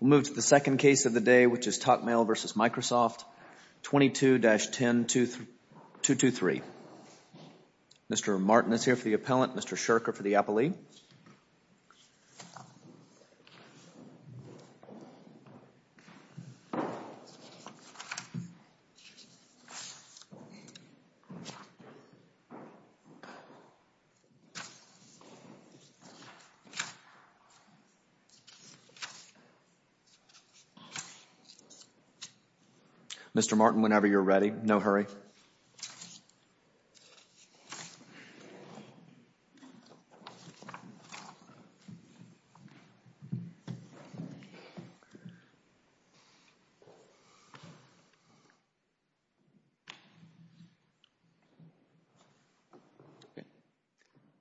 We'll move to the second case of the day, which is TocMail v. Microsoft, 22-10223. Mr. Martin is here for the appellant. Mr. Shurker for the appellee. Mr. Martin, whenever you're ready. No hurry.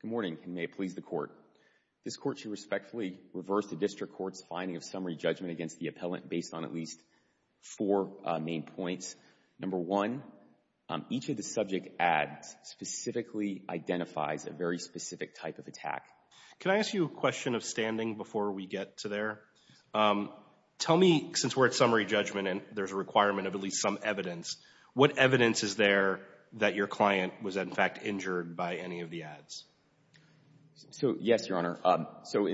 Good morning, and may it please the Court. This Court should respectfully reverse the District Court's finding of summary judgment against the appellant based on at least four main points. Number one, each of the subject ads specifically identifies a very specific type of attack. Can I ask you a question of standing before we get to there? Tell me, since we're at summary judgment and there's a requirement of at least some evidence, what evidence is there that your client was, in fact, injured by any of the ads? So, yes, Your Honor. So,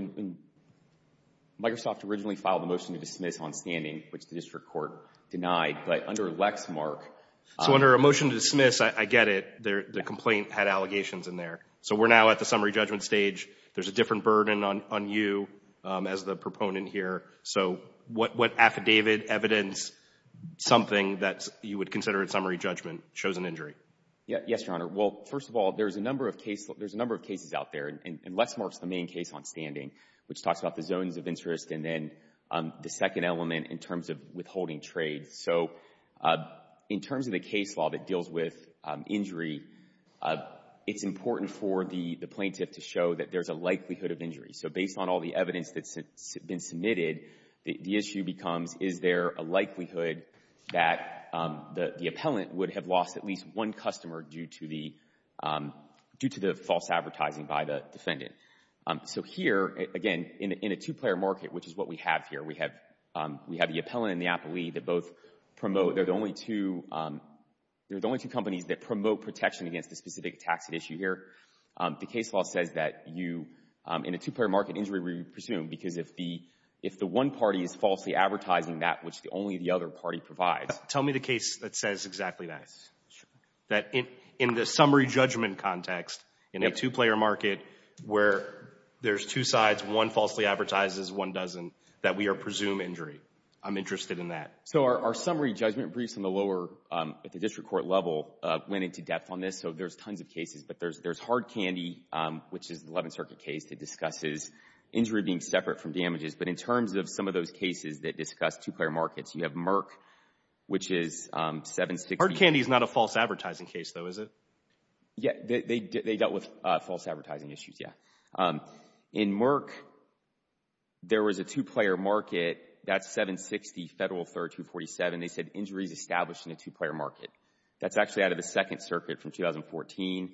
Microsoft originally filed a motion to dismiss on standing, which the District Court denied, but under a Lexmark... So, under a motion to dismiss, I get it. The complaint had allegations in there. So, we're now at the summary judgment stage. There's a different burden on you as the proponent here. So, what affidavit, evidence, something that you would consider in summary judgment shows an injury? Yes, Your Honor. Well, first of all, there's a number of cases out there, and Lexmark's the main case on standing, which talks about the zones of interest and then the second element in terms of withholding trade. So, in terms of the case law that deals with injury, it's important for the plaintiff to show that there's a likelihood of injury. So, based on all the evidence that's been submitted, the issue becomes, is there a likelihood that the appellant would have lost at least one customer due to the false advertising by the defendant? So, here, again, in a two-player market, which is what we have here, we have the appellant and the appellee that both promote, they're the only two, they're the only two companies that promote protection against the specific taxed issue here. The case law says that you, in a two-player market, injury would be presumed, because if the one party is falsely advertising that which only the other party provides. Tell me the case that says exactly that, that in the summary judgment context, in a two-player market where there's two sides, one falsely advertises, one doesn't, that we presume injury. I'm interested in that. So, our summary judgment briefs in the lower, at the district court level, went into depth on this. So, there's tons of cases, but there's Hard Candy, which is the 11th Circuit case that discusses injury being separate from damages. But in terms of some of those cases that discuss two-player markets, you have Merck, which is 760. Hard Candy is not a false advertising case, though, is it? Yeah, they dealt with false advertising issues, yeah. In Merck, there was a two-player market, that's 760 Federal 3rd 247. They said injury is established in a two-player market. That's actually out of the Second Circuit from 2014.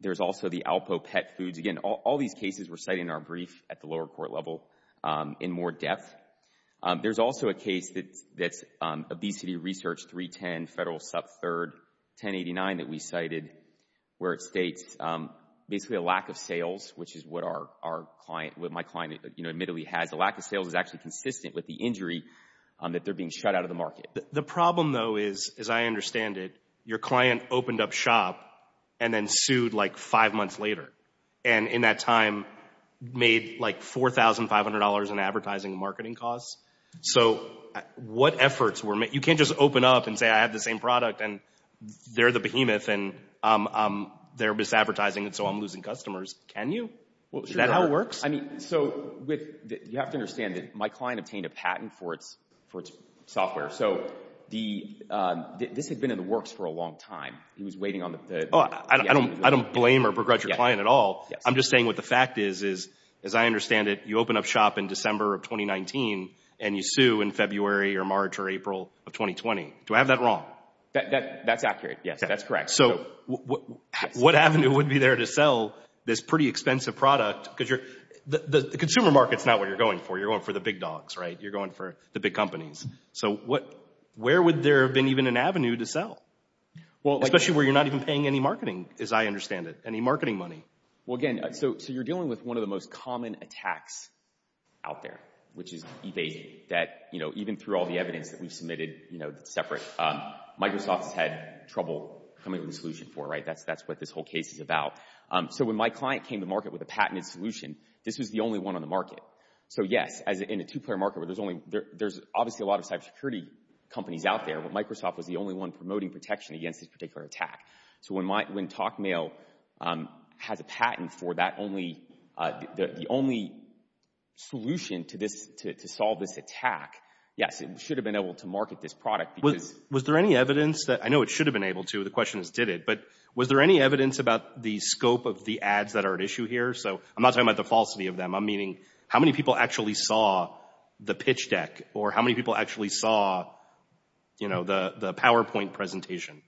There's also the Alpo Pet Foods. Again, all these cases were cited in our brief at the lower court level in more depth. There's also a case that's Obesity Research 310 Federal Sub 3rd 1089 that we cited, where it states basically a lack of sales, which is what our client, what my client, you know, admittedly has. A lack of sales is actually consistent with the injury that they're being shut out of the market. The problem, though, is, as I understand it, your client opened up shop and then sued like five months later. And in that time, made like $4,500 in advertising and marketing costs. So what efforts were made? You can't just open up and say, I have the same product, and they're the behemoth, and they're misadvertising, and so I'm losing customers. Can you? Is that how it works? I mean, so with that, you have to understand that my client obtained a patent for its software. So this had been in the works for a long time. He was waiting on the... Oh, I don't blame or regret your client at all. I'm just saying what the fact is, is as I understand it, you open up shop in December of 2019 and you sue in February or March or April of 2020. Do I have that wrong? That's accurate. Yes, that's correct. So what avenue would be there to sell this pretty expensive product? Because the consumer market's not what you're going for. You're going for the big dogs, right? You're going for the big companies. So where would there have been even an avenue to sell? Especially where you're not even paying any marketing, as I understand it, any marketing money. Well, again, so you're dealing with one of the most common attacks out there, which is eBay, that even through all the evidence that we've submitted separate, Microsoft has had trouble coming up with a solution for, right? That's what this whole case is about. So when my client came to market with a patented solution, this was the only one on the market. So yes, in a two-player market where there's obviously a lot of cybersecurity companies out there, Microsoft was the only one promoting protection against this particular attack. So when TalkMail has a patent for the only solution to solve this attack, yes, it should have been able to market this product because... The question is, did it? But was there any evidence about the scope of the ads that are at issue here? So I'm not talking about the falsity of them. I'm meaning, how many people actually saw the pitch deck or how many people actually saw the PowerPoint presentation?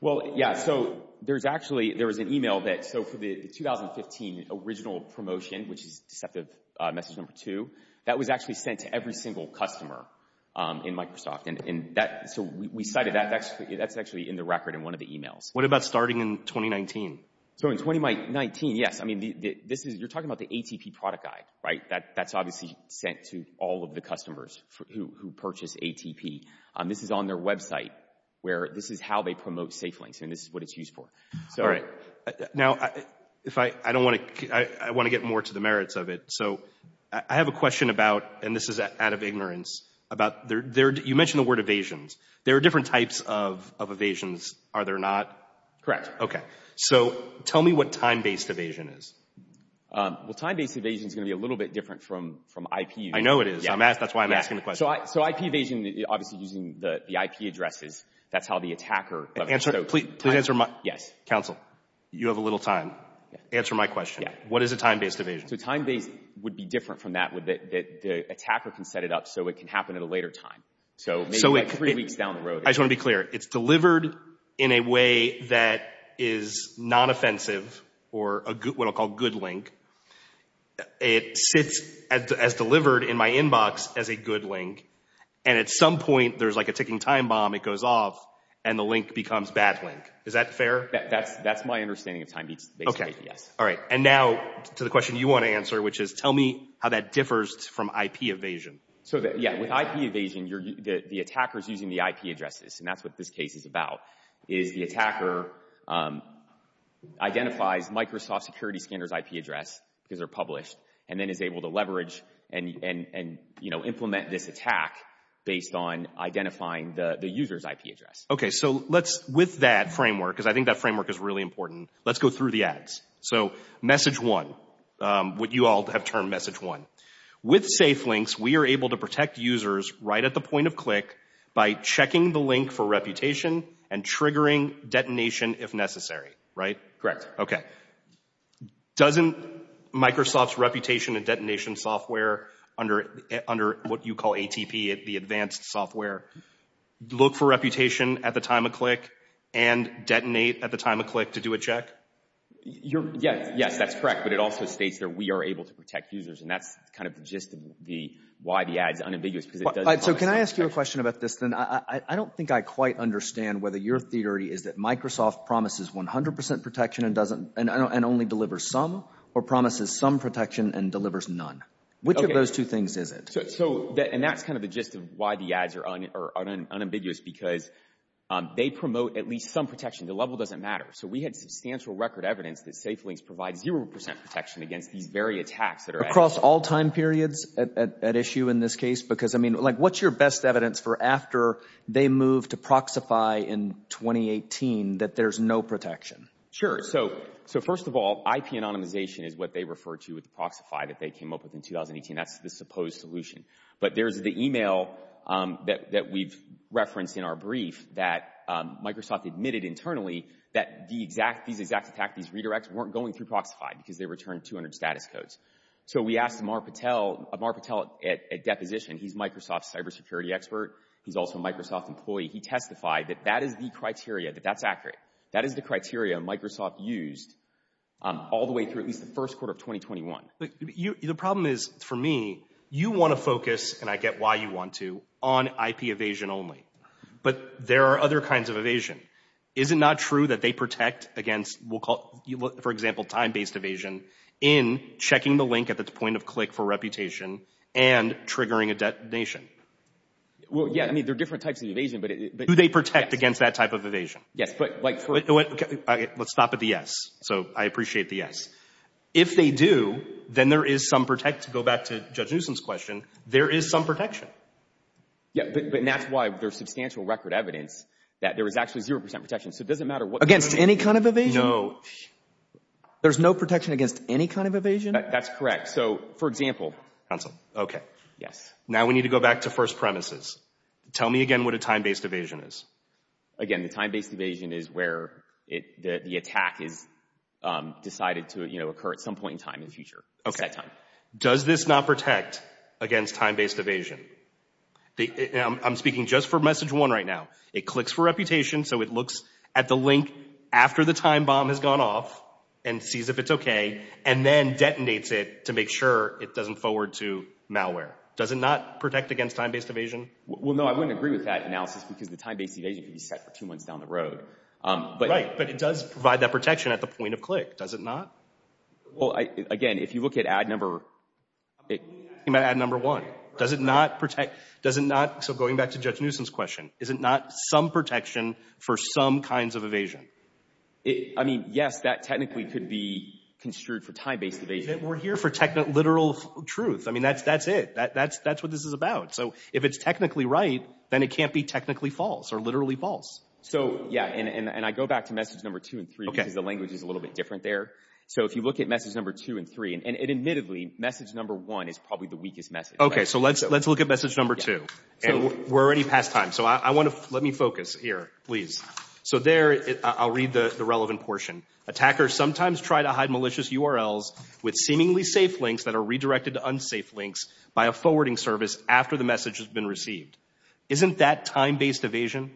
Well, yeah. So there was an email that... So for the 2015 original promotion, which is deceptive message number two, that was actually sent to every single customer in Microsoft. So we cited that. That's actually in the record in one of the emails. What about starting in 2019? So in 2019, yes. I mean, you're talking about the ATP product guy, right? That's obviously sent to all of the customers who purchase ATP. This is on their website where this is how they promote SafeLinks, and this is what it's used for. All right. Now, I want to get more to the merits of it. So I have a question about, and this is out of ignorance, about... You mentioned the word evasions. There are different types of evasions, are there not? Correct. Okay. So tell me what time-based evasion is. Well, time-based evasion is going to be a little bit different from IP. I know it is. That's why I'm asking the question. So IP evasion, obviously using the IP addresses, that's how the attacker... Please answer my... Yes. Counsel, you have a little time. Answer my question. What is a time-based evasion? So time-based would be different from that. The attacker can set it up so it can happen at a later time. So maybe like three weeks down the road... I just want to be clear. It's delivered in a way that is non-offensive or what I'll call good link. It sits as delivered in my inbox as a good link, and at some point, there's like a ticking time bomb, it goes off, and the link becomes bad link. Is that fair? All right. And now to the question you want to answer, which is tell me how that differs from IP evasion. So yeah, with IP evasion, the attacker is using the IP addresses, and that's what this case is about, is the attacker identifies Microsoft Security Scanner's IP address, because they're published, and then is able to leverage and implement this attack based on identifying the user's IP address. Okay. So with that framework, because I think that framework is really important, let's go through the ads. So message one, what you all have termed message one. With SafeLinks, we are able to protect users right at the point of click by checking the link for reputation and triggering detonation if necessary, right? Correct. Okay. Doesn't Microsoft's reputation and detonation software under what you call ATP, the advanced software, look for reputation at the time of click and detonate at the time of click to do a check? Yes, that's correct. But it also states that we are able to protect users. And that's kind of the gist of why the ads are unambiguous. So can I ask you a question about this then? I don't think I quite understand whether your theory is that Microsoft promises 100% protection and only delivers some, or promises some protection and delivers none. Which of those two things is it? So, and that's kind of the gist of why the ads are unambiguous, because they promote at least some protection. The level doesn't matter. So we had substantial record evidence that SafeLinks provides 0% protection against these very attacks that are- Across all time periods at issue in this case? Because I mean, like, what's your best evidence for after they move to Proxify in 2018 that there's no protection? Sure. So first of all, IP anonymization is what they refer to with Proxify that they came up with in 2018. That's the supposed solution. But there's the email that we've that Microsoft admitted internally that these exact attacks, these redirects, weren't going through Proxify because they returned 200 status codes. So we asked Amar Patel at deposition. He's Microsoft's cybersecurity expert. He's also a Microsoft employee. He testified that that is the criteria, that that's accurate. That is the criteria Microsoft used all the way through at least the first quarter of 2021. The problem is, for me, you want to focus, and I get why you want to, on IP evasion only. But there are other kinds of evasion. Is it not true that they protect against, we'll call it, for example, time-based evasion in checking the link at the point of click for reputation and triggering a detonation? Well, yeah, I mean, there are different types of evasion, but- Do they protect against that type of evasion? Yes, but like- Let's stop at the yes. So I appreciate the yes. If they do, then there is some protect, to go back to Judge Newsom's question, there is some protection. Yeah, but that's why there's substantial record evidence that there is actually 0% protection. So it doesn't matter what- Against any kind of evasion? No. There's no protection against any kind of evasion? That's correct. So, for example- Counsel. Okay. Yes. Now we need to go back to first premises. Tell me again what a time-based evasion is. Again, the time-based evasion is where the attack is decided to occur at some point in time in the future, at that time. Does this not protect against time-based evasion? I'm speaking just for message one right now. It clicks for reputation, so it looks at the link after the time bomb has gone off, and sees if it's okay, and then detonates it to make sure it doesn't forward to malware. Does it not protect against time-based evasion? Well, no, I wouldn't agree with that analysis because the time-based evasion could be set for two months down the road. Right, but it does provide that protection at the point of click, does it not? Well, again, if you look at ad number one, does it not protect, does it not, so going back to Judge Newsom's question, is it not some protection for some kinds of evasion? I mean, yes, that technically could be construed for time-based evasion. We're here for technical, literal truth. I mean, that's it. That's what this is about. So, if it's technically right, then it can't be technically false or literally false. So, yeah, and I go back to message number two and three because the if you look at message number two and three, and admittedly, message number one is probably the weakest message. Okay, so let's look at message number two, and we're already past time, so I want to, let me focus here, please. So there, I'll read the relevant portion. Attackers sometimes try to hide malicious URLs with seemingly safe links that are redirected to unsafe links by a forwarding service after the message has been received. Isn't that time-based evasion?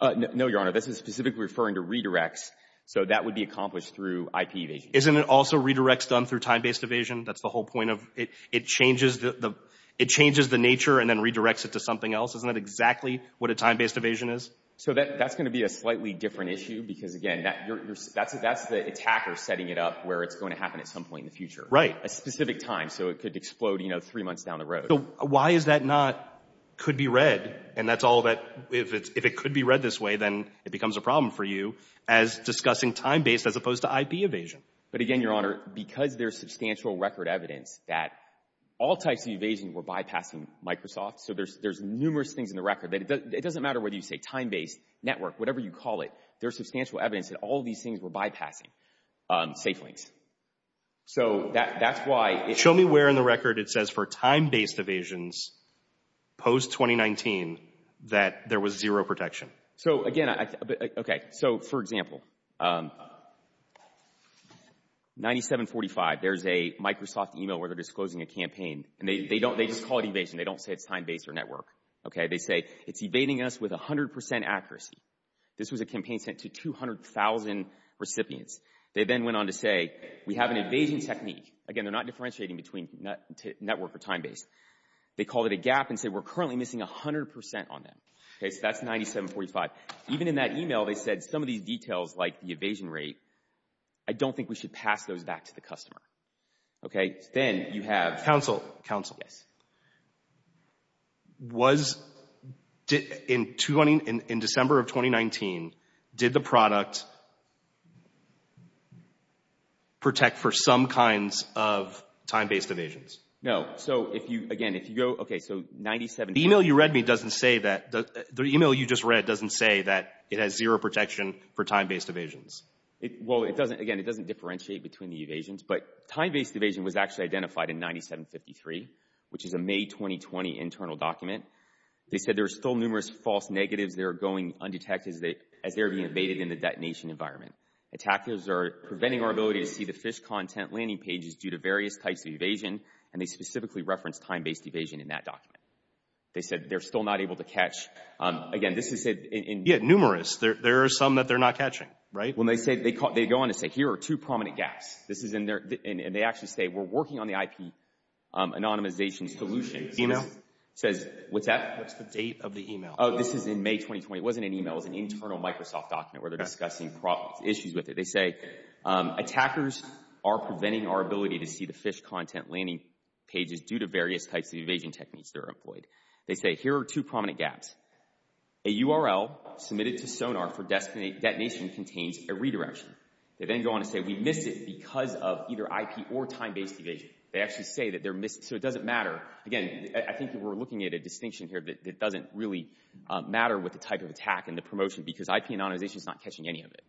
No, Your Honor, this is specifically referring to redirects, so that would be accomplished through IP evasion. Isn't it also redirects done through time-based evasion? That's the whole point of, it changes the nature and then redirects it to something else. Isn't that exactly what a time-based evasion is? So that's going to be a slightly different issue because, again, that's the attacker setting it up where it's going to happen at some point in the future. Right. A specific time, so it could explode, you know, three months down the road. Why is that not, could be read? And that's all that, if it could be read this way, then it becomes a problem for you as discussing time-based as opposed to IP evasion. But again, Your Honor, because there's substantial record evidence that all types of evasion were bypassing Microsoft, so there's numerous things in the record. It doesn't matter whether you say time-based, network, whatever you call it, there's substantial evidence that all these things were bypassing safe links. So that's why— Show me where in the record it says for time-based evasions post-2019 that there was zero protection. So again, okay, so for example, 9745, there's a Microsoft email where they're disclosing a campaign and they don't, they just call it evasion. They don't say it's time-based or network. Okay, they say it's evading us with 100% accuracy. This was a campaign sent to 200,000 recipients. They then went on to say we have an evasion technique. Again, they're not differentiating between network or time-based. They call it a gap and say we're currently missing 100% on them. Okay, so that's 9745. Even in that email, they said some of these details, like the evasion rate, I don't think we should pass those back to the customer. Okay, then you have— Counsel, counsel. Yes. Was, in December of 2019, did the product protect for some kinds of time-based evasions? No, so if you, again, if you go, okay, so 97— The email you just read doesn't say that it has zero protection for time-based evasions. Well, it doesn't, again, it doesn't differentiate between the evasions, but time-based evasion was actually identified in 9753, which is a May 2020 internal document. They said there were still numerous false negatives that are going undetected as they're being evaded in the detonation environment. Attackers are preventing our ability to see the phish content landing pages due to various types of evasion, and they specifically referenced time-based evasion in that document. They said they're still not able to catch, again, this is in— Yeah, numerous. There are some that they're not catching, right? When they say, they go on to say, here are two prominent gaps. This is in there, and they actually say, we're working on the IP anonymization solution. Email? Says, what's that? What's the date of the email? Oh, this is in May 2020. It wasn't an email, it was an internal Microsoft document where they're discussing problems, issues with it. They say, attackers are preventing our ability to see the phish content landing pages due to various types of evasion techniques that are employed. They say, here are two prominent gaps. A URL submitted to Sonar for detonation contains a redirection. They then go on to say, we missed it because of either IP or time-based evasion. They actually say that they're missing, so it doesn't matter. Again, I think that we're looking at a distinction here that doesn't really matter with the type of attack and the promotion because IP anonymization is not catching any of it.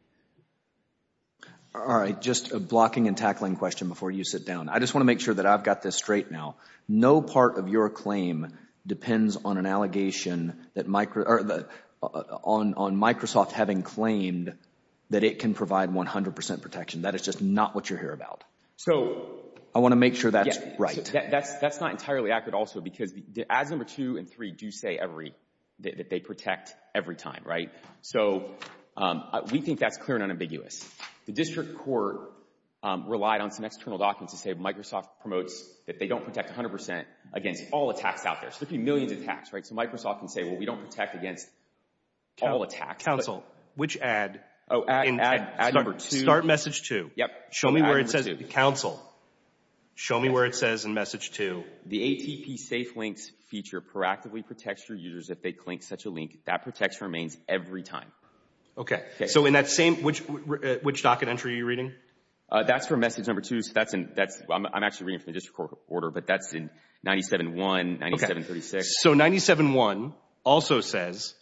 All right, just a blocking and tackling question before you sit down. I just want to make sure that I've got this straight now. No part of your claim depends on an allegation on Microsoft having claimed that it can provide 100% protection. That is just not what you're here about. I want to make sure that's right. That's not entirely accurate also because ads number two and three do say that they protect every time, right? So we think that's clear and unambiguous. The district court relied on some external documents to say, Microsoft promotes that they don't protect 100% against all attacks out there. So there could be millions of attacks, right? So Microsoft can say, well, we don't protect against all attacks. Counsel, which ad in ad number two? Start message two. Yep. Show me where it says, counsel, show me where it says in message two. The ATP safe links feature proactively protects your users if they clink such a link. That protects remains every time. Okay, so in that same, which docket entry are you reading? That's for message number two. I'm actually reading from the district court order, but that's in 97-1, 97-36. So 97-1 also says,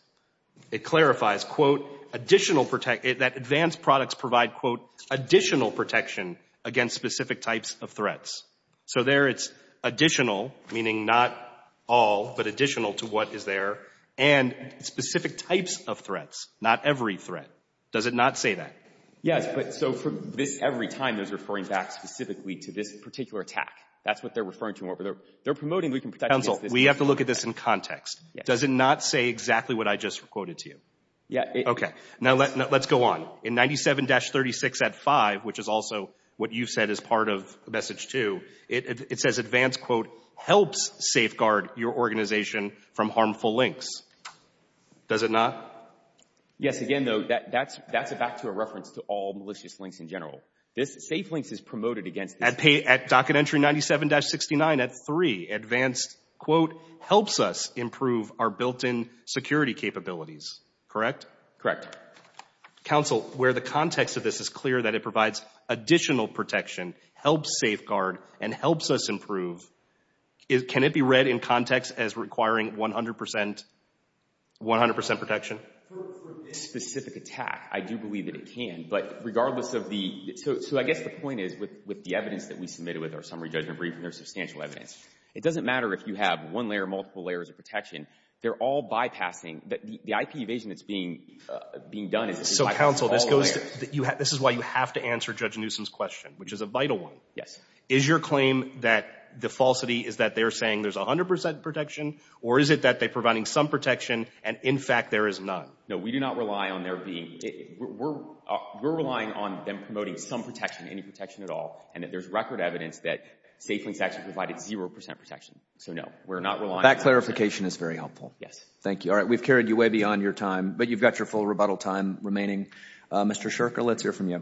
it clarifies, quote, that advanced products provide, quote, additional protection against specific types of threats. So there it's additional, meaning not all, but additional to what is there, and specific types of threats, not every threat. Does it not say that? Yes, but so for this, every time, there's referring back specifically to this particular attack. That's what they're referring to. They're promoting we can protect against this. Counsel, we have to look at this in context. Does it not say exactly what I just quoted to you? Yeah. Okay. Now let's go on. In 97-36.5, which is also what you've said is part of message two, it says advanced, quote, helps safeguard your organization from harmful links. Does it not? Yes. Again, though, that's back to a reference to all malicious links in general. This safe links is promoted against. At pay, at docket entry 97-69, at three, advanced, quote, helps us improve our built-in security capabilities. Correct? Correct. Counsel, where the context of this is clear that it provides additional protection, helps safeguard, and helps us improve, can it be read in context as requiring 100% protection? For this specific attack, I do believe that it can. But regardless of the... So I guess the point is with the evidence that we submitted with our summary judgment briefing, there's substantial evidence. It doesn't matter if you have one layer, multiple layers of protection. They're all bypassing. The IP evasion that's being done is... So, counsel, this is why you have to answer Judge Newsom's question, which is a vital one. Yes. Is your claim that the falsity is that they're saying there's 100% protection, or is it that they're providing some protection and, in fact, there is none? No, we do not rely on there being... We're relying on them promoting some protection, any protection at all. And there's record evidence that safe links actually provided 0% protection. So, no, we're not relying... That clarification is very helpful. Yes. Thank you. All right. We've carried you way beyond your time, but you've got your full rebuttal time remaining. Mr. Sherker, let's hear from you. Thank you, Mr. Chairman.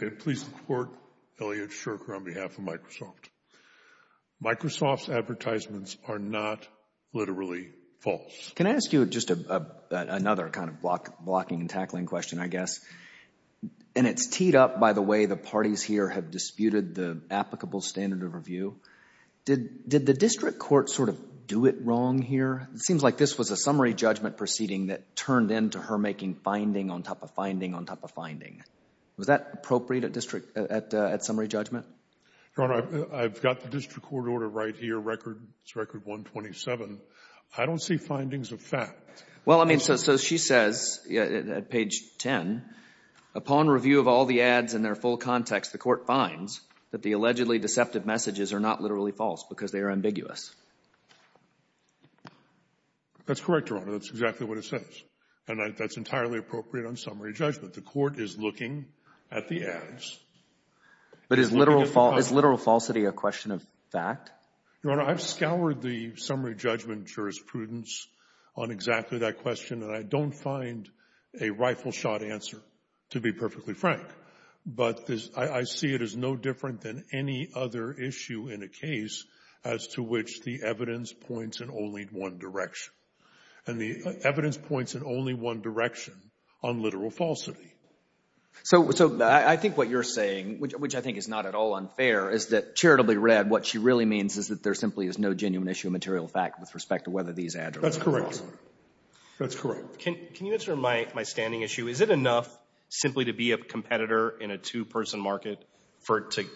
May it please the Court, Elliot Sherker on behalf of Microsoft. Microsoft's advertisements are not literally false. Can I ask you just another kind of blocking and tackling question, I guess? And it's teed up by the way the parties here have disputed the applicable standard of review. Did the district court sort of do it wrong here? It seems like this was a summary judgment proceeding that turned into her making finding on top of finding on top of finding. Was that appropriate at summary judgment? Your Honor, I've got the district court order right here, record 127. I don't see findings of fact. Well, I mean, so she says at page 10, upon review of all the ads in their full context, the court finds that the allegedly deceptive messages are not literally false because they are ambiguous. That's correct, Your Honor. That's exactly what it says. And that's entirely appropriate on summary judgment. The court is looking at the ads. But is literal falsity a question of fact? Your Honor, I've scoured the summary judgment jurisprudence on exactly that question, and I don't find a rifle shot answer to be perfectly frank. But I see it as no different than any other issue in a case as to which the evidence points in only one direction. And the evidence points in only one direction on literal falsity. So I think what you're saying, which I think is not at all unfair, is that charitably read, what she really means is that there simply is no genuine issue of material fact with respect to whether these ads are literal or false. That's correct. That's correct. Can you answer my standing issue? Is it enough simply to be a competitor in a two-person market to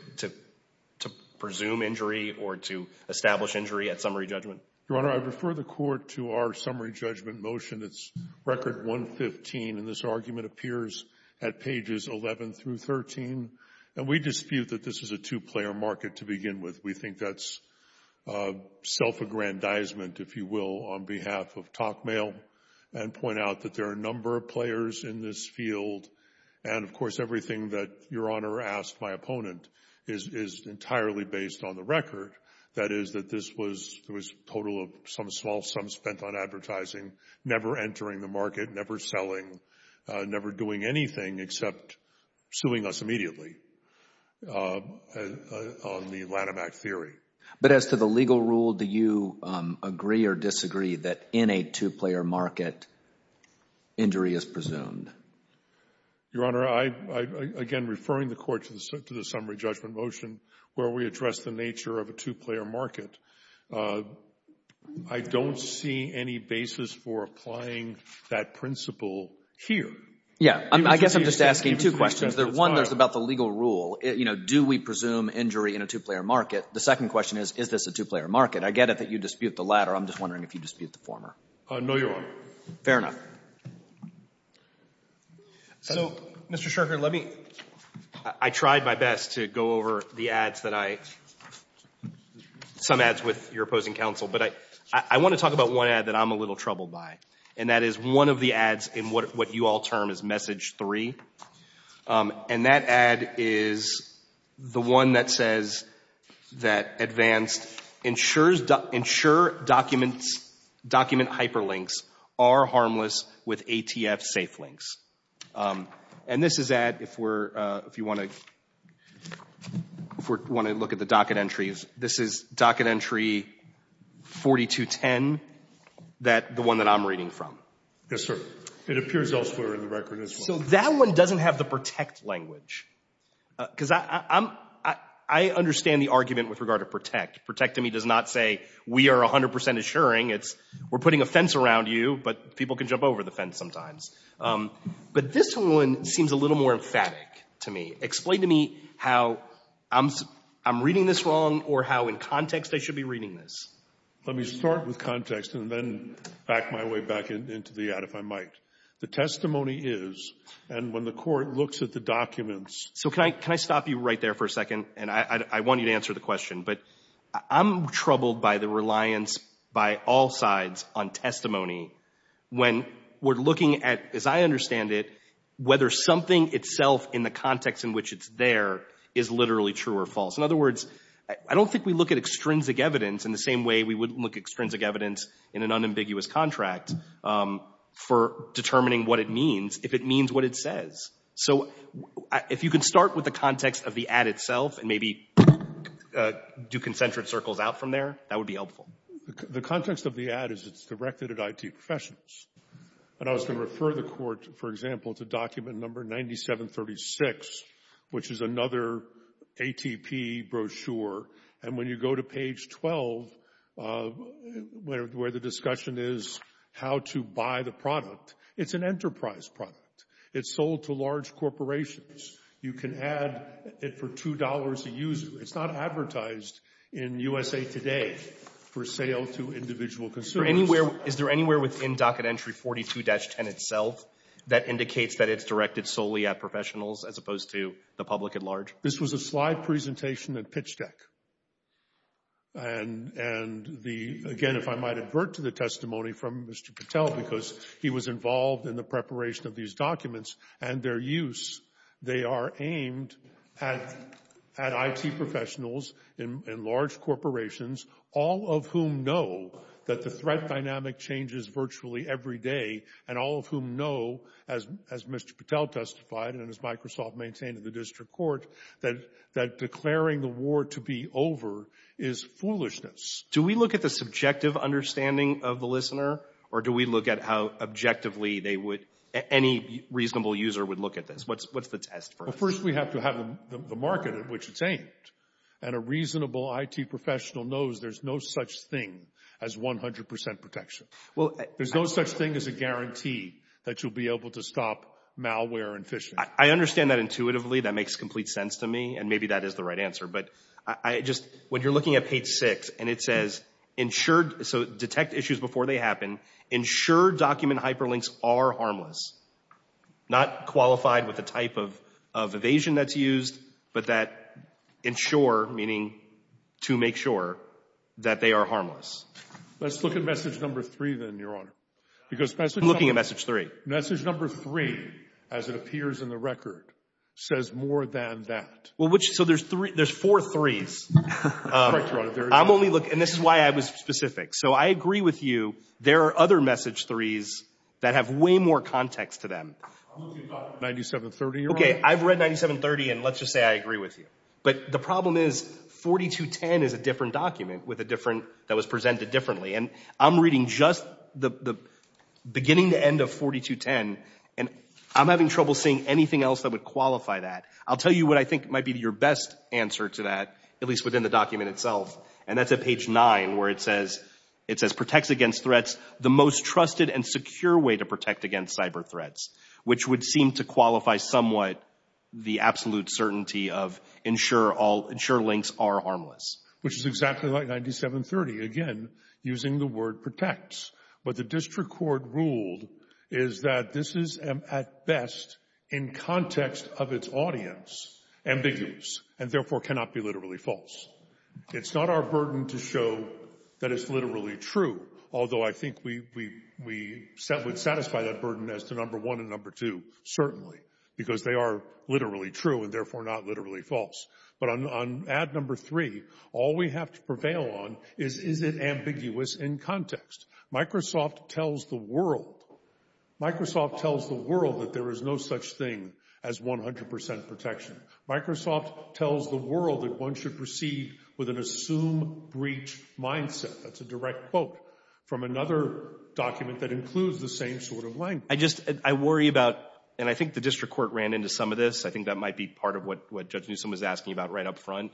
presume injury or to establish injury at summary judgment? Your Honor, I refer the court to our summary judgment motion. It's record 115, and this argument appears at pages 11 through 13. And we dispute that this is a two-player market to begin with. We think that's self-aggrandizement, if you will, on behalf of talk mail and point out that there are a number of players in this field. And, of course, everything that Your Honor asked my opponent is entirely based on the record, that is, that this was a total of some small sum spent on advertising, never entering the market, never selling, never doing anything except suing us immediately on the Lanham Act theory. But as to the legal rule, do you agree or disagree that in a two-player market, injury is presumed? Your Honor, again, referring the court to the summary judgment motion where we address the nature of a two-player market, I don't see any basis for applying that principle here. Yeah. I guess I'm just asking two questions. One is about the legal rule. You know, do we presume injury in a two-player market? The second question is, is this a two-player market? I get it that you dispute the latter. I'm just wondering if you dispute the former. No, Your Honor. Fair enough. So, Mr. Sherker, let me, I tried my best to go over the ads that I, some ads with your opposing counsel, but I want to talk about one ad that I'm a little troubled by, and that is one of the ads in what you all term as Message 3, and that ad is the one that says that Advanced ensures document hyperlinks are harmless with ATF safe links. And this is that if we're, if you want to, if we want to look at the docket entries, this is docket entry 4210, that, the one that I'm reading from. Yes, sir. It appears elsewhere in the record as well. So that one doesn't have the protect language, because I'm, I understand the argument with regard to protect. Protect to me does not say we are 100% assuring, it's we're putting a fence around you, but people can jump over the fence sometimes. But this one seems a little more emphatic to me. Explain to me how I'm reading this wrong or how in context I should be reading this. Let me start with context and then back my way back into the ad if I might. The testimony is, and when the court looks at the documents. So can I stop you right there for a second? And I want you to answer the question, but I'm troubled by the reliance by all sides on testimony when we're looking at, as I understand it, whether something itself in the context in which it's there is literally true or false. In other words, I don't think we look at extrinsic evidence in the same way we would extrinsic evidence in an unambiguous contract for determining what it means, if it means what it says. So if you can start with the context of the ad itself and maybe do concentric circles out from there, that would be helpful. The context of the ad is it's directed at IT professionals. And I was going to refer the court, for example, to document number 9736, which is another ATP brochure. And when you go to page 12, where the discussion is how to buy the product, it's an enterprise product. It's sold to large corporations. You can add it for $2 a user. It's not advertised in USA Today for sale to individual consumers. Is there anywhere within docket entry 42-10 itself that indicates that it's directed solely at professionals as opposed to the public at large? This was a slide presentation at Pitch Deck. And the, again, if I might advert to the testimony from Mr. Patel, because he was involved in the preparation of these documents and their use, they are aimed at IT professionals in large corporations, all of whom know that the threat dynamic changes virtually every day, and all of whom know, as Mr. Patel testified and as Microsoft maintained in the district court, that declaring the war to be over is foolishness. Do we look at the subjective understanding of the listener, or do we look at how objectively they would, any reasonable user would look at this? What's the test for us? First, we have to have the market in which it's aimed. And a reasonable IT professional knows there's no such thing as 100% protection. There's no such thing as a guarantee that you'll be able to stop malware and phishing. I understand that intuitively. That makes complete sense to me. And maybe that is the right answer. But I just, when you're looking at page six, and it says, so detect issues before they happen, ensure document hyperlinks are harmless, not qualified with the type of evasion that's used, but that ensure, meaning to make sure, that they are harmless. Let's look at message number three, then, Your Honor. Because message number... I'm looking at message three. The record says more than that. Well, which, so there's three, there's four threes. I'm only looking, and this is why I was specific. So I agree with you. There are other message threes that have way more context to them. I'm looking at 9730, Your Honor. Okay, I've read 9730, and let's just say I agree with you. But the problem is, 4210 is a different document with a different, that was presented differently. And I'm reading just the beginning to end of 4210, and I'm having trouble seeing anything else that would qualify that. I'll tell you what I think might be your best answer to that, at least within the document itself. And that's at page nine, where it says, it says, protects against threats the most trusted and secure way to protect against cyber threats, which would seem to qualify somewhat the absolute certainty of ensure links are harmless. Which is exactly like 9730, again, using the word protects. But the district court ruled is that this is at best in context of its audience, ambiguous, and therefore cannot be literally false. It's not our burden to show that it's literally true. Although I think we would satisfy that burden as to number one and number two, certainly. Because they are literally true and therefore not literally false. But on ad number three, all we have to prevail on is, is it ambiguous in context? Microsoft tells the world, Microsoft tells the world that there is no such thing as 100% protection. Microsoft tells the world that one should proceed with an assume breach mindset. That's a direct quote from another document that includes the same sort of language. I just, I worry about, and I think the district court ran into some of this. I think that might be part of what Judge Newsom was asking about right up front.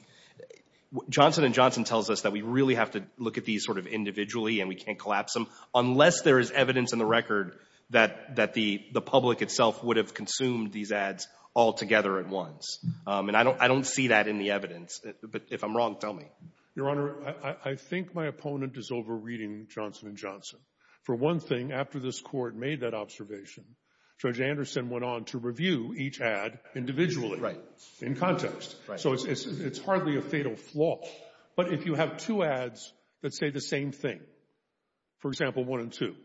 Johnson & Johnson tells us that we really have to look at these sort of individually and we can't collapse them unless there is evidence in the record that the public itself would have consumed these ads all together at once. And I don't see that in the evidence. But if I'm wrong, tell me. Your Honor, I think my opponent is overreading Johnson & Johnson. For one thing, after this court made that observation, Judge Anderson went on to review each ad individually. Right. In context. So it's hardly a fatal flaw. But if you have two ads that say the same thing, for example, one and two,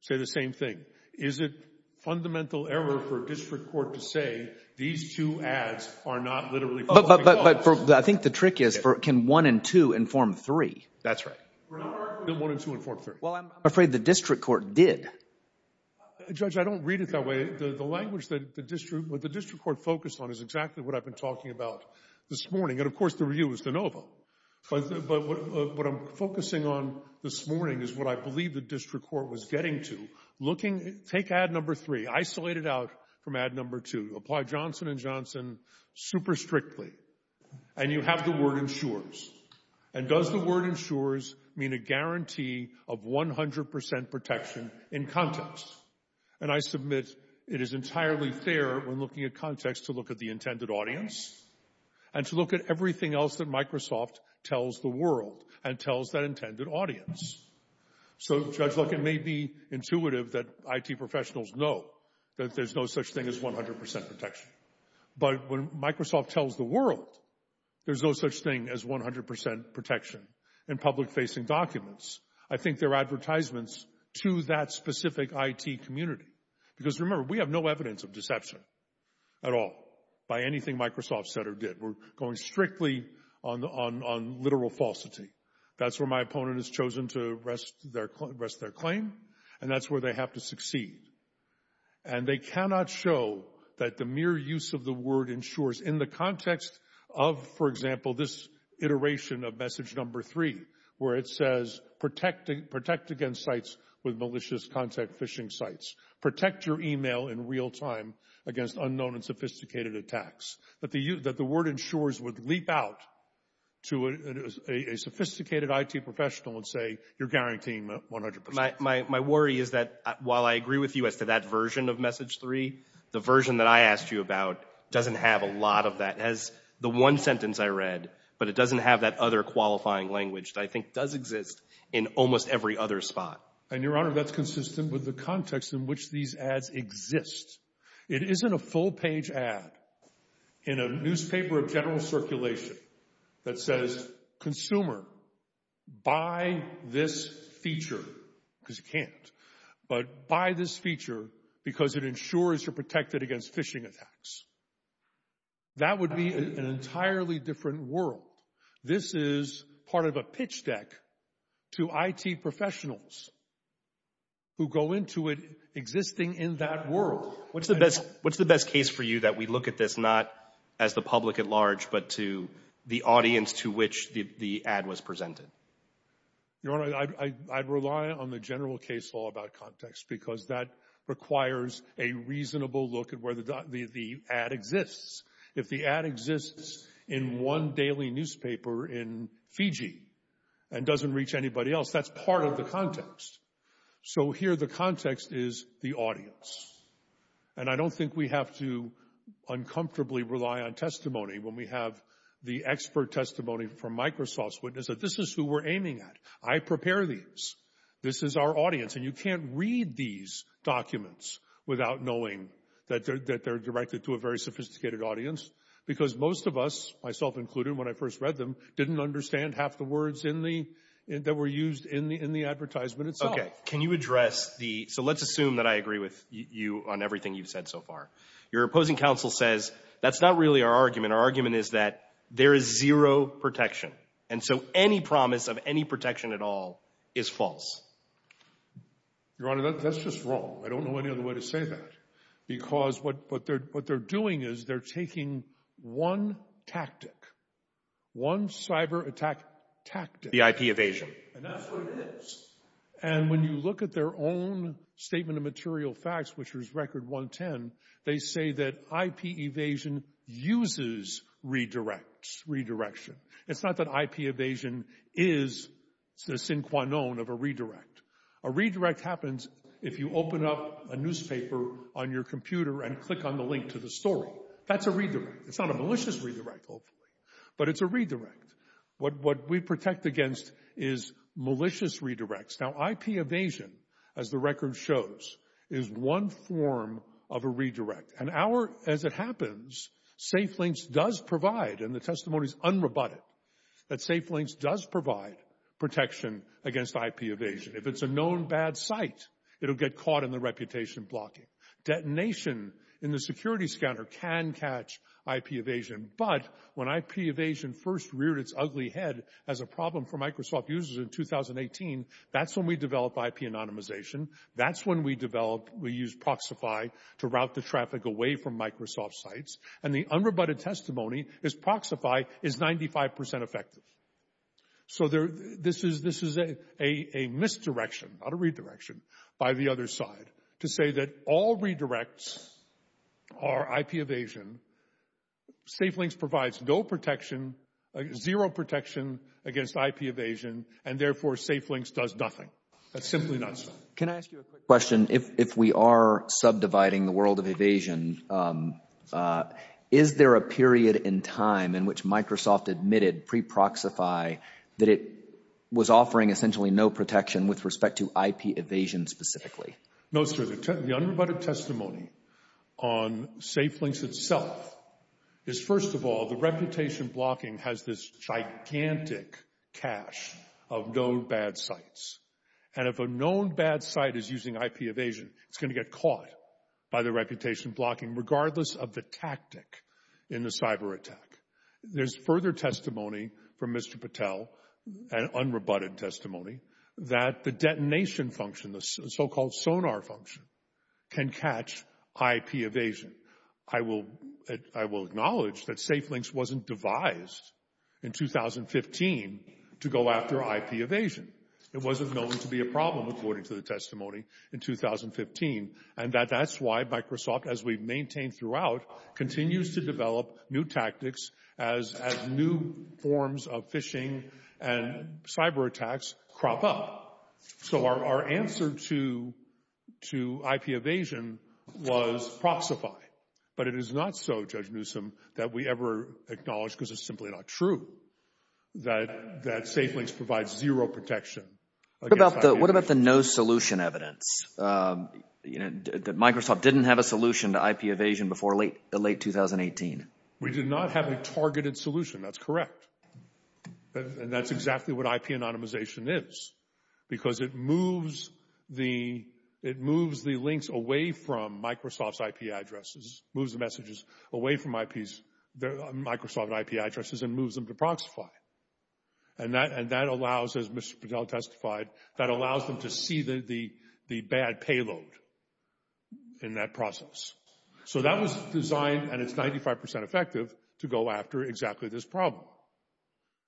say the same thing, is it fundamental error for a district court to say these two ads are not literally... But I think the trick is, can one and two inform three? That's right. Well, I'm afraid the district court did. Judge, I don't read it that way. The language that the district, what the district court focused on is exactly what I've been talking about this morning. And of course, the review was de novo. But what I'm focusing on this morning is what I believe the district court was getting to. Looking, take ad number three. Isolate it out from ad number two. Apply Johnson & Johnson super strictly. And you have the word ensures. And does the word ensures mean a guarantee of 100% protection in context? And I submit it is entirely fair when looking at context to look at the intended audience and to look at everything else that Microsoft tells the world and tells that intended audience. So, Judge, look, it may be intuitive that IT professionals know that there's no such thing as 100% protection. But when Microsoft tells the world there's no such thing as 100% protection in public-facing documents, I think they're advertisements to that specific IT community. Because remember, we have no evidence of deception at all by anything Microsoft said or did. We're going strictly on literal falsity. That's where my opponent has chosen to rest their claim. And that's where they have to succeed. And they cannot show that the mere use of the word ensures in the context of, for example, this iteration of message number three, where it says protect against sites with malicious contact phishing sites. Protect your email in real time against unknown and sophisticated attacks. That the word ensures would leap out to a sophisticated IT professional and say you're guaranteeing 100%. My worry is that while I agree with you as to that version of message three, the version that I asked you about doesn't have a lot of that. It has the one sentence I read, but it doesn't have that other qualifying language that I think does exist in almost every other spot. And, Your Honor, that's consistent with the context in which these ads exist. It isn't a full page ad in a newspaper of general circulation that says consumer, buy this feature because you can't, but buy this feature because it ensures you're protected against phishing attacks. That would be an entirely different world. This is part of a pitch deck to IT professionals who go into it existing in that world. What's the best case for you that we look at this not as the public at large, but to the audience to which the ad was presented? Your Honor, I'd rely on the general case law about context because that requires a reasonable look at where the ad exists. If the ad exists in one daily newspaper in Fiji and doesn't reach anybody else, that's part of the context. So here the context is the audience. And I don't think we have to uncomfortably rely on testimony when we have the expert testimony from Microsoft's witness that this is who we're aiming at. I prepare these. This is our audience. And you can't read these documents without knowing that they're directed to a very sophisticated audience because most of us, myself included, when I first read them, didn't understand half the words that were used in the advertisement itself. Okay, can you address the, so let's assume that I agree with you on everything you've said so far. Your opposing counsel says, that's not really our argument. Our argument is that there is zero protection. And so any promise of any protection at all is false. Your Honor, that's just wrong. I don't know any other way to say that because what they're doing is they're taking one tactic, one cyber attack tactic. The IP evasion. And that's what it is. And when you look at their own statement of material facts, which was record 110, they say that IP evasion uses redirects, redirection. It's not that IP evasion is the sinquanone of a redirect. A redirect happens if you open up a newspaper on your computer and click on the link to the story. That's a redirect. It's not a malicious redirect, hopefully, but it's a redirect. What we protect against is malicious redirects. Now, IP evasion, as the record shows, is one form of a redirect. And as it happens, Safe Links does provide, and the testimony is unrebutted, that Safe Links does provide protection against IP evasion. If it's a known bad site, it'll get caught in the reputation blocking. Detonation in the security scanner can catch IP evasion. But when IP evasion first reared its ugly head as a problem for Microsoft users in 2018, that's when we develop IP anonymization. That's when we develop, we use Proxify to route the traffic away from Microsoft sites. And the unrebutted testimony is Proxify is 95% effective. So this is a misdirection, not a redirection, by the other side. To say that all redirects are IP evasion, Safe Links provides no protection, zero protection against IP evasion, and therefore Safe Links does nothing. That's simply nonsense. Can I ask you a quick question? If we are subdividing the world of evasion, is there a period in time in which Microsoft admitted pre-Proxify that it was offering essentially no protection with respect to IP evasion specifically? No, sir. The unrebutted testimony on Safe Links itself is first of all, the reputation blocking has this gigantic cache of known bad sites. And if a known bad site is using IP evasion, it's going to get caught by the reputation blocking regardless of the tactic in the cyber attack. There's further testimony from Mr. Patel, an unrebutted testimony, that the detonation function, the so-called sonar function, can catch IP evasion. I will acknowledge that Safe Links wasn't devised in 2015 to go after IP evasion. It wasn't known to be a problem, according to the testimony in 2015. And that's why Microsoft, as we've maintained throughout, continues to develop new tactics as new forms of phishing and cyber attacks crop up. So our answer to IP evasion was Proxify. But it is not so, Judge Newsom, that we ever acknowledge because it's simply not true that Safe Links provides zero protection. What about the no solution evidence? Microsoft didn't have a solution to IP evasion before late 2018. We did not have a targeted solution. That's correct. And that's exactly what IP anonymization is, because it moves the links away from Microsoft's IP addresses, moves the messages away from Microsoft IP addresses and moves them to Proxify. And that allows, as Mr. Patel testified, that allows them to see the bad payload in that process. So that was designed, and it's 95% effective, to go after exactly this problem.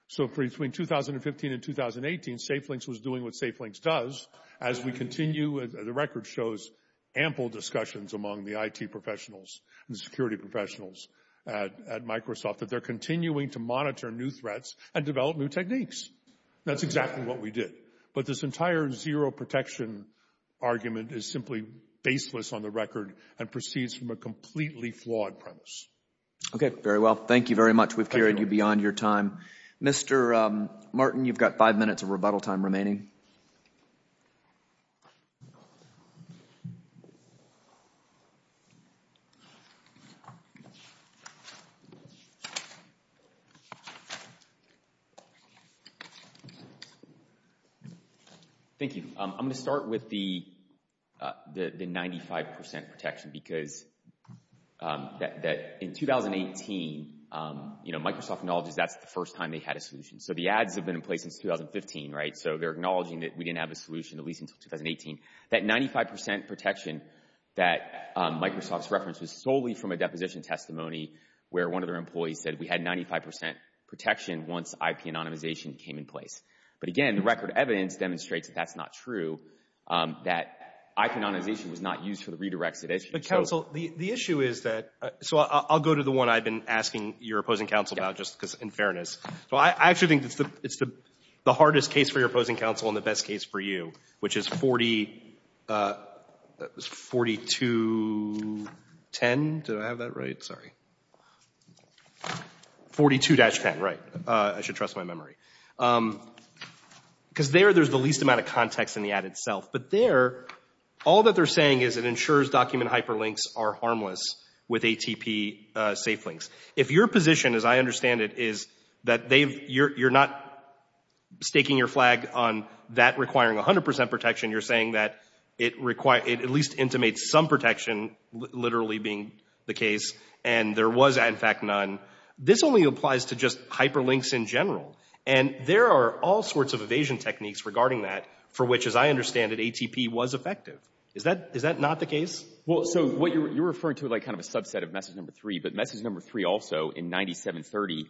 So between 2015 and 2018, Safe Links was doing what Safe Links does. As we continue, the record shows ample discussions among the IT professionals and security professionals at Microsoft that they're continuing to monitor new threats and develop new techniques. That's exactly what we did. But this entire zero protection argument is simply baseless on the record and proceeds from a completely flawed premise. Okay, very well. Thank you very much. We've carried you beyond your time. Mr. Martin, you've got five minutes of rebuttal time remaining. Thank you. I'm going to start with the 95% protection because in 2018, Microsoft acknowledges that's the first time they had a solution. So the ads have been in place since 2015, right? So they're acknowledging that we didn't have a solution at least until 2018. That 95% protection that Microsoft's referenced was solely from a deposition testimony where one of their employees said we had 95% protection once IP anonymization came in place. But again, the record evidence demonstrates that that's not true, that IP anonymization was not used for the redirects it is. But counsel, the issue is that, so I'll go to the one I've been asking your opposing counsel about just because in fairness. So I actually think it's the hardest case for your opposing counsel and the best case for you, which is 4210. Did I have that right? Sorry. 42-10, right. I should trust my memory. Because there, there's the least amount of context in the ad itself. But there, all that they're saying is it ensures document hyperlinks are harmless with ATP safelinks. If your position, as I understand it, is that you're not staking your flag on that requiring 100% protection, you're saying that it at least intimates some protection, literally being the case, and there was in fact none. This only applies to just hyperlinks in general. And there are all sorts of evasion techniques regarding that for which, as I understand it, ATP was effective. Is that, is that not the case? Well, so what you're referring to like kind of a subset of message number three, but message number three also in 9730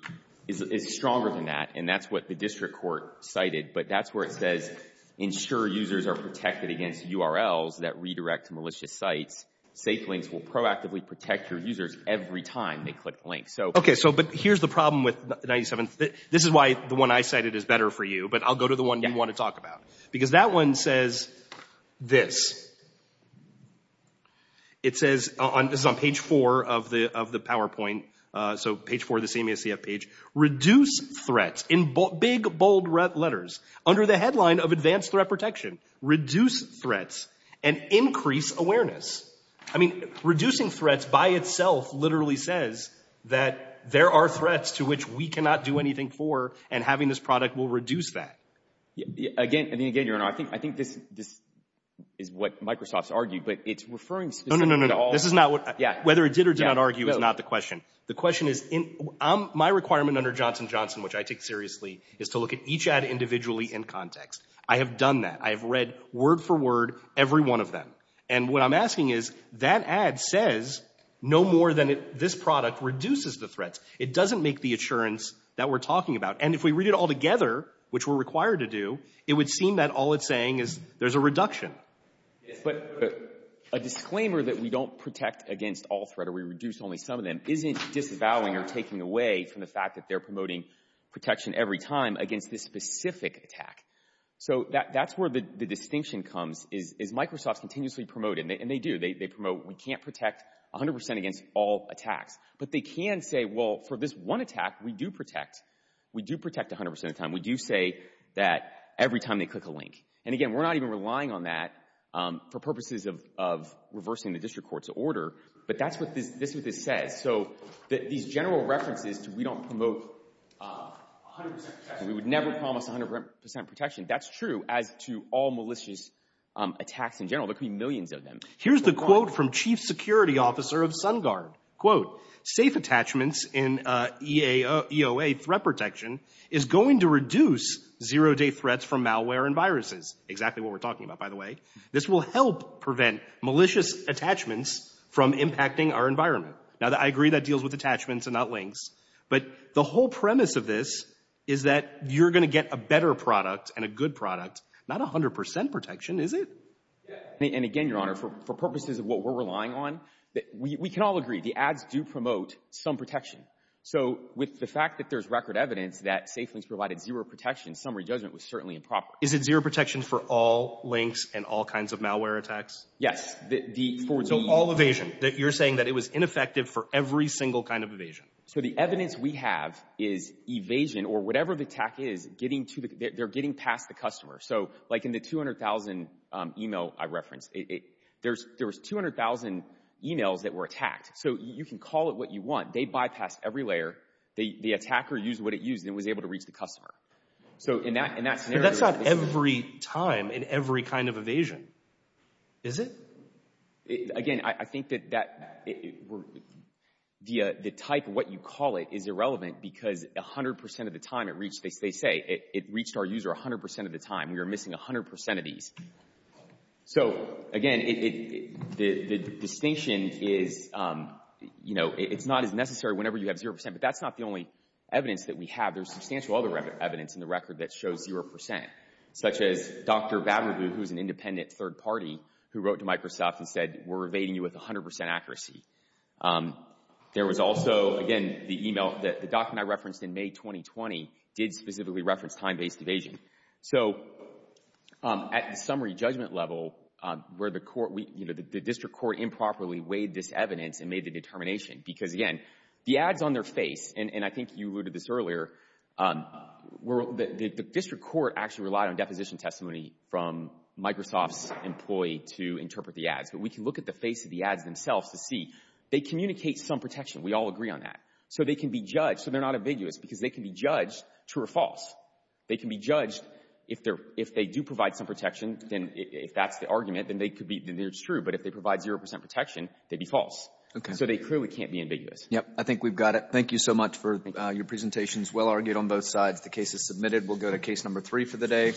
is stronger than that. And that's what the district court cited. But that's where it says, ensure users are protected against URLs that redirect to malicious sites. Safelinks will proactively protect your users every time they click the link. So, okay. So, but here's the problem with 97, this is why the one I cited is better for you, but I'll go to the one you want to talk about. Because that one says this. It says on, this is on page four of the PowerPoint. So page four of the CMSCF page. Reduce threats in big, bold letters under the headline of advanced threat protection. Reduce threats and increase awareness. I mean, reducing threats by itself, literally says that there are threats to which we cannot do anything for and having this product will reduce that. Again, and then again, your honor, I think, I think this, this is what Microsoft's argued, but it's referring specifically to all. This is not what, yeah, whether it did or did not argue is not the question. The question is in my requirement under Johnson Johnson, which I take seriously, is to look at each ad individually in context. I have done that. I have read word for word, every one of them. And what I'm asking is that ad says, no more than this product reduces the threats. It doesn't make the assurance that we're talking about. And if we read it all together, which we're required to do, it would seem that all it's saying is there's a reduction. Yes, but a disclaimer that we don't protect against all threat or we reduce only some of them isn't disavowing or taking away from the fact that they're promoting protection every time against this specific attack. So that's where the distinction comes is Microsoft's continuously promoted, and they do, they promote, we can't protect 100% against all attacks. But they can say, well, for this one attack, we do protect, we do protect 100% of the time. We do say that every time they click a link. And again, we're not even relying on that for purposes of reversing the district court's order. But that's what this says. So these general references to, we don't promote 100% protection, we would never promise 100% protection. That's true as to all malicious attacks in general. There could be millions of them. Here's the quote from Chief Security Officer of SunGuard. Safe attachments in EOA threat protection is going to reduce zero-day threats from malware and viruses. Exactly what we're talking about, by the way. This will help prevent malicious attachments from impacting our environment. Now, I agree that deals with attachments and not links. But the whole premise of this is that you're going to get a better product and a good product. Not 100% protection, is it? And again, Your Honor, for purposes of what we're relying on, we can all agree, the ads do promote some protection. So with the fact that there's record evidence that SafeLinks provided zero protection, summary judgment was certainly improper. Is it zero protection for all links and all kinds of malware attacks? Yes. So all evasion. You're saying that it was ineffective for every single kind of evasion. So the evidence we have is evasion, or whatever the attack is, they're getting past the customer. So like in the 200,000 email I referenced, there was 200,000 emails that were attacked. So you can call it what you want. They bypassed every layer. The attacker used what it used and was able to reach the customer. So in that scenario- That's not every time in every kind of evasion, is it? Again, I think that the type of what you call it is irrelevant because 100% of the time it reached, they say it reached our user 100% of the time. We are missing 100% of these. So again, the distinction is, you know, it's not as necessary whenever you have 0%, but that's not the only evidence that we have. There's substantial other evidence in the record that shows 0%, such as Dr. Babnabu, who's an independent third party, who wrote to Microsoft and said, we're evading you with 100% accuracy. There was also, again, the email that the doctor and I referenced in May 2020 did specifically reference time-based evasion. So at the summary judgment level, where the district court improperly weighed this evidence and made the determination, because again, the ads on their face, and I think you alluded to this earlier, the district court actually relied on deposition testimony from Microsoft's employee to interpret the ads. But we can look at the face of the ads themselves to see they communicate some protection. We all agree on that. So they can be judged. So they're not ambiguous, because they can be judged true or false. They can be judged if they do provide some protection, then if that's the argument, then they could be true. But if they provide 0% protection, they'd be false. Okay. So they clearly can't be ambiguous. Yeah, I think we've got it. Thank you so much for your presentations. Well argued on both sides. The case is submitted. We'll go to case number three for the day.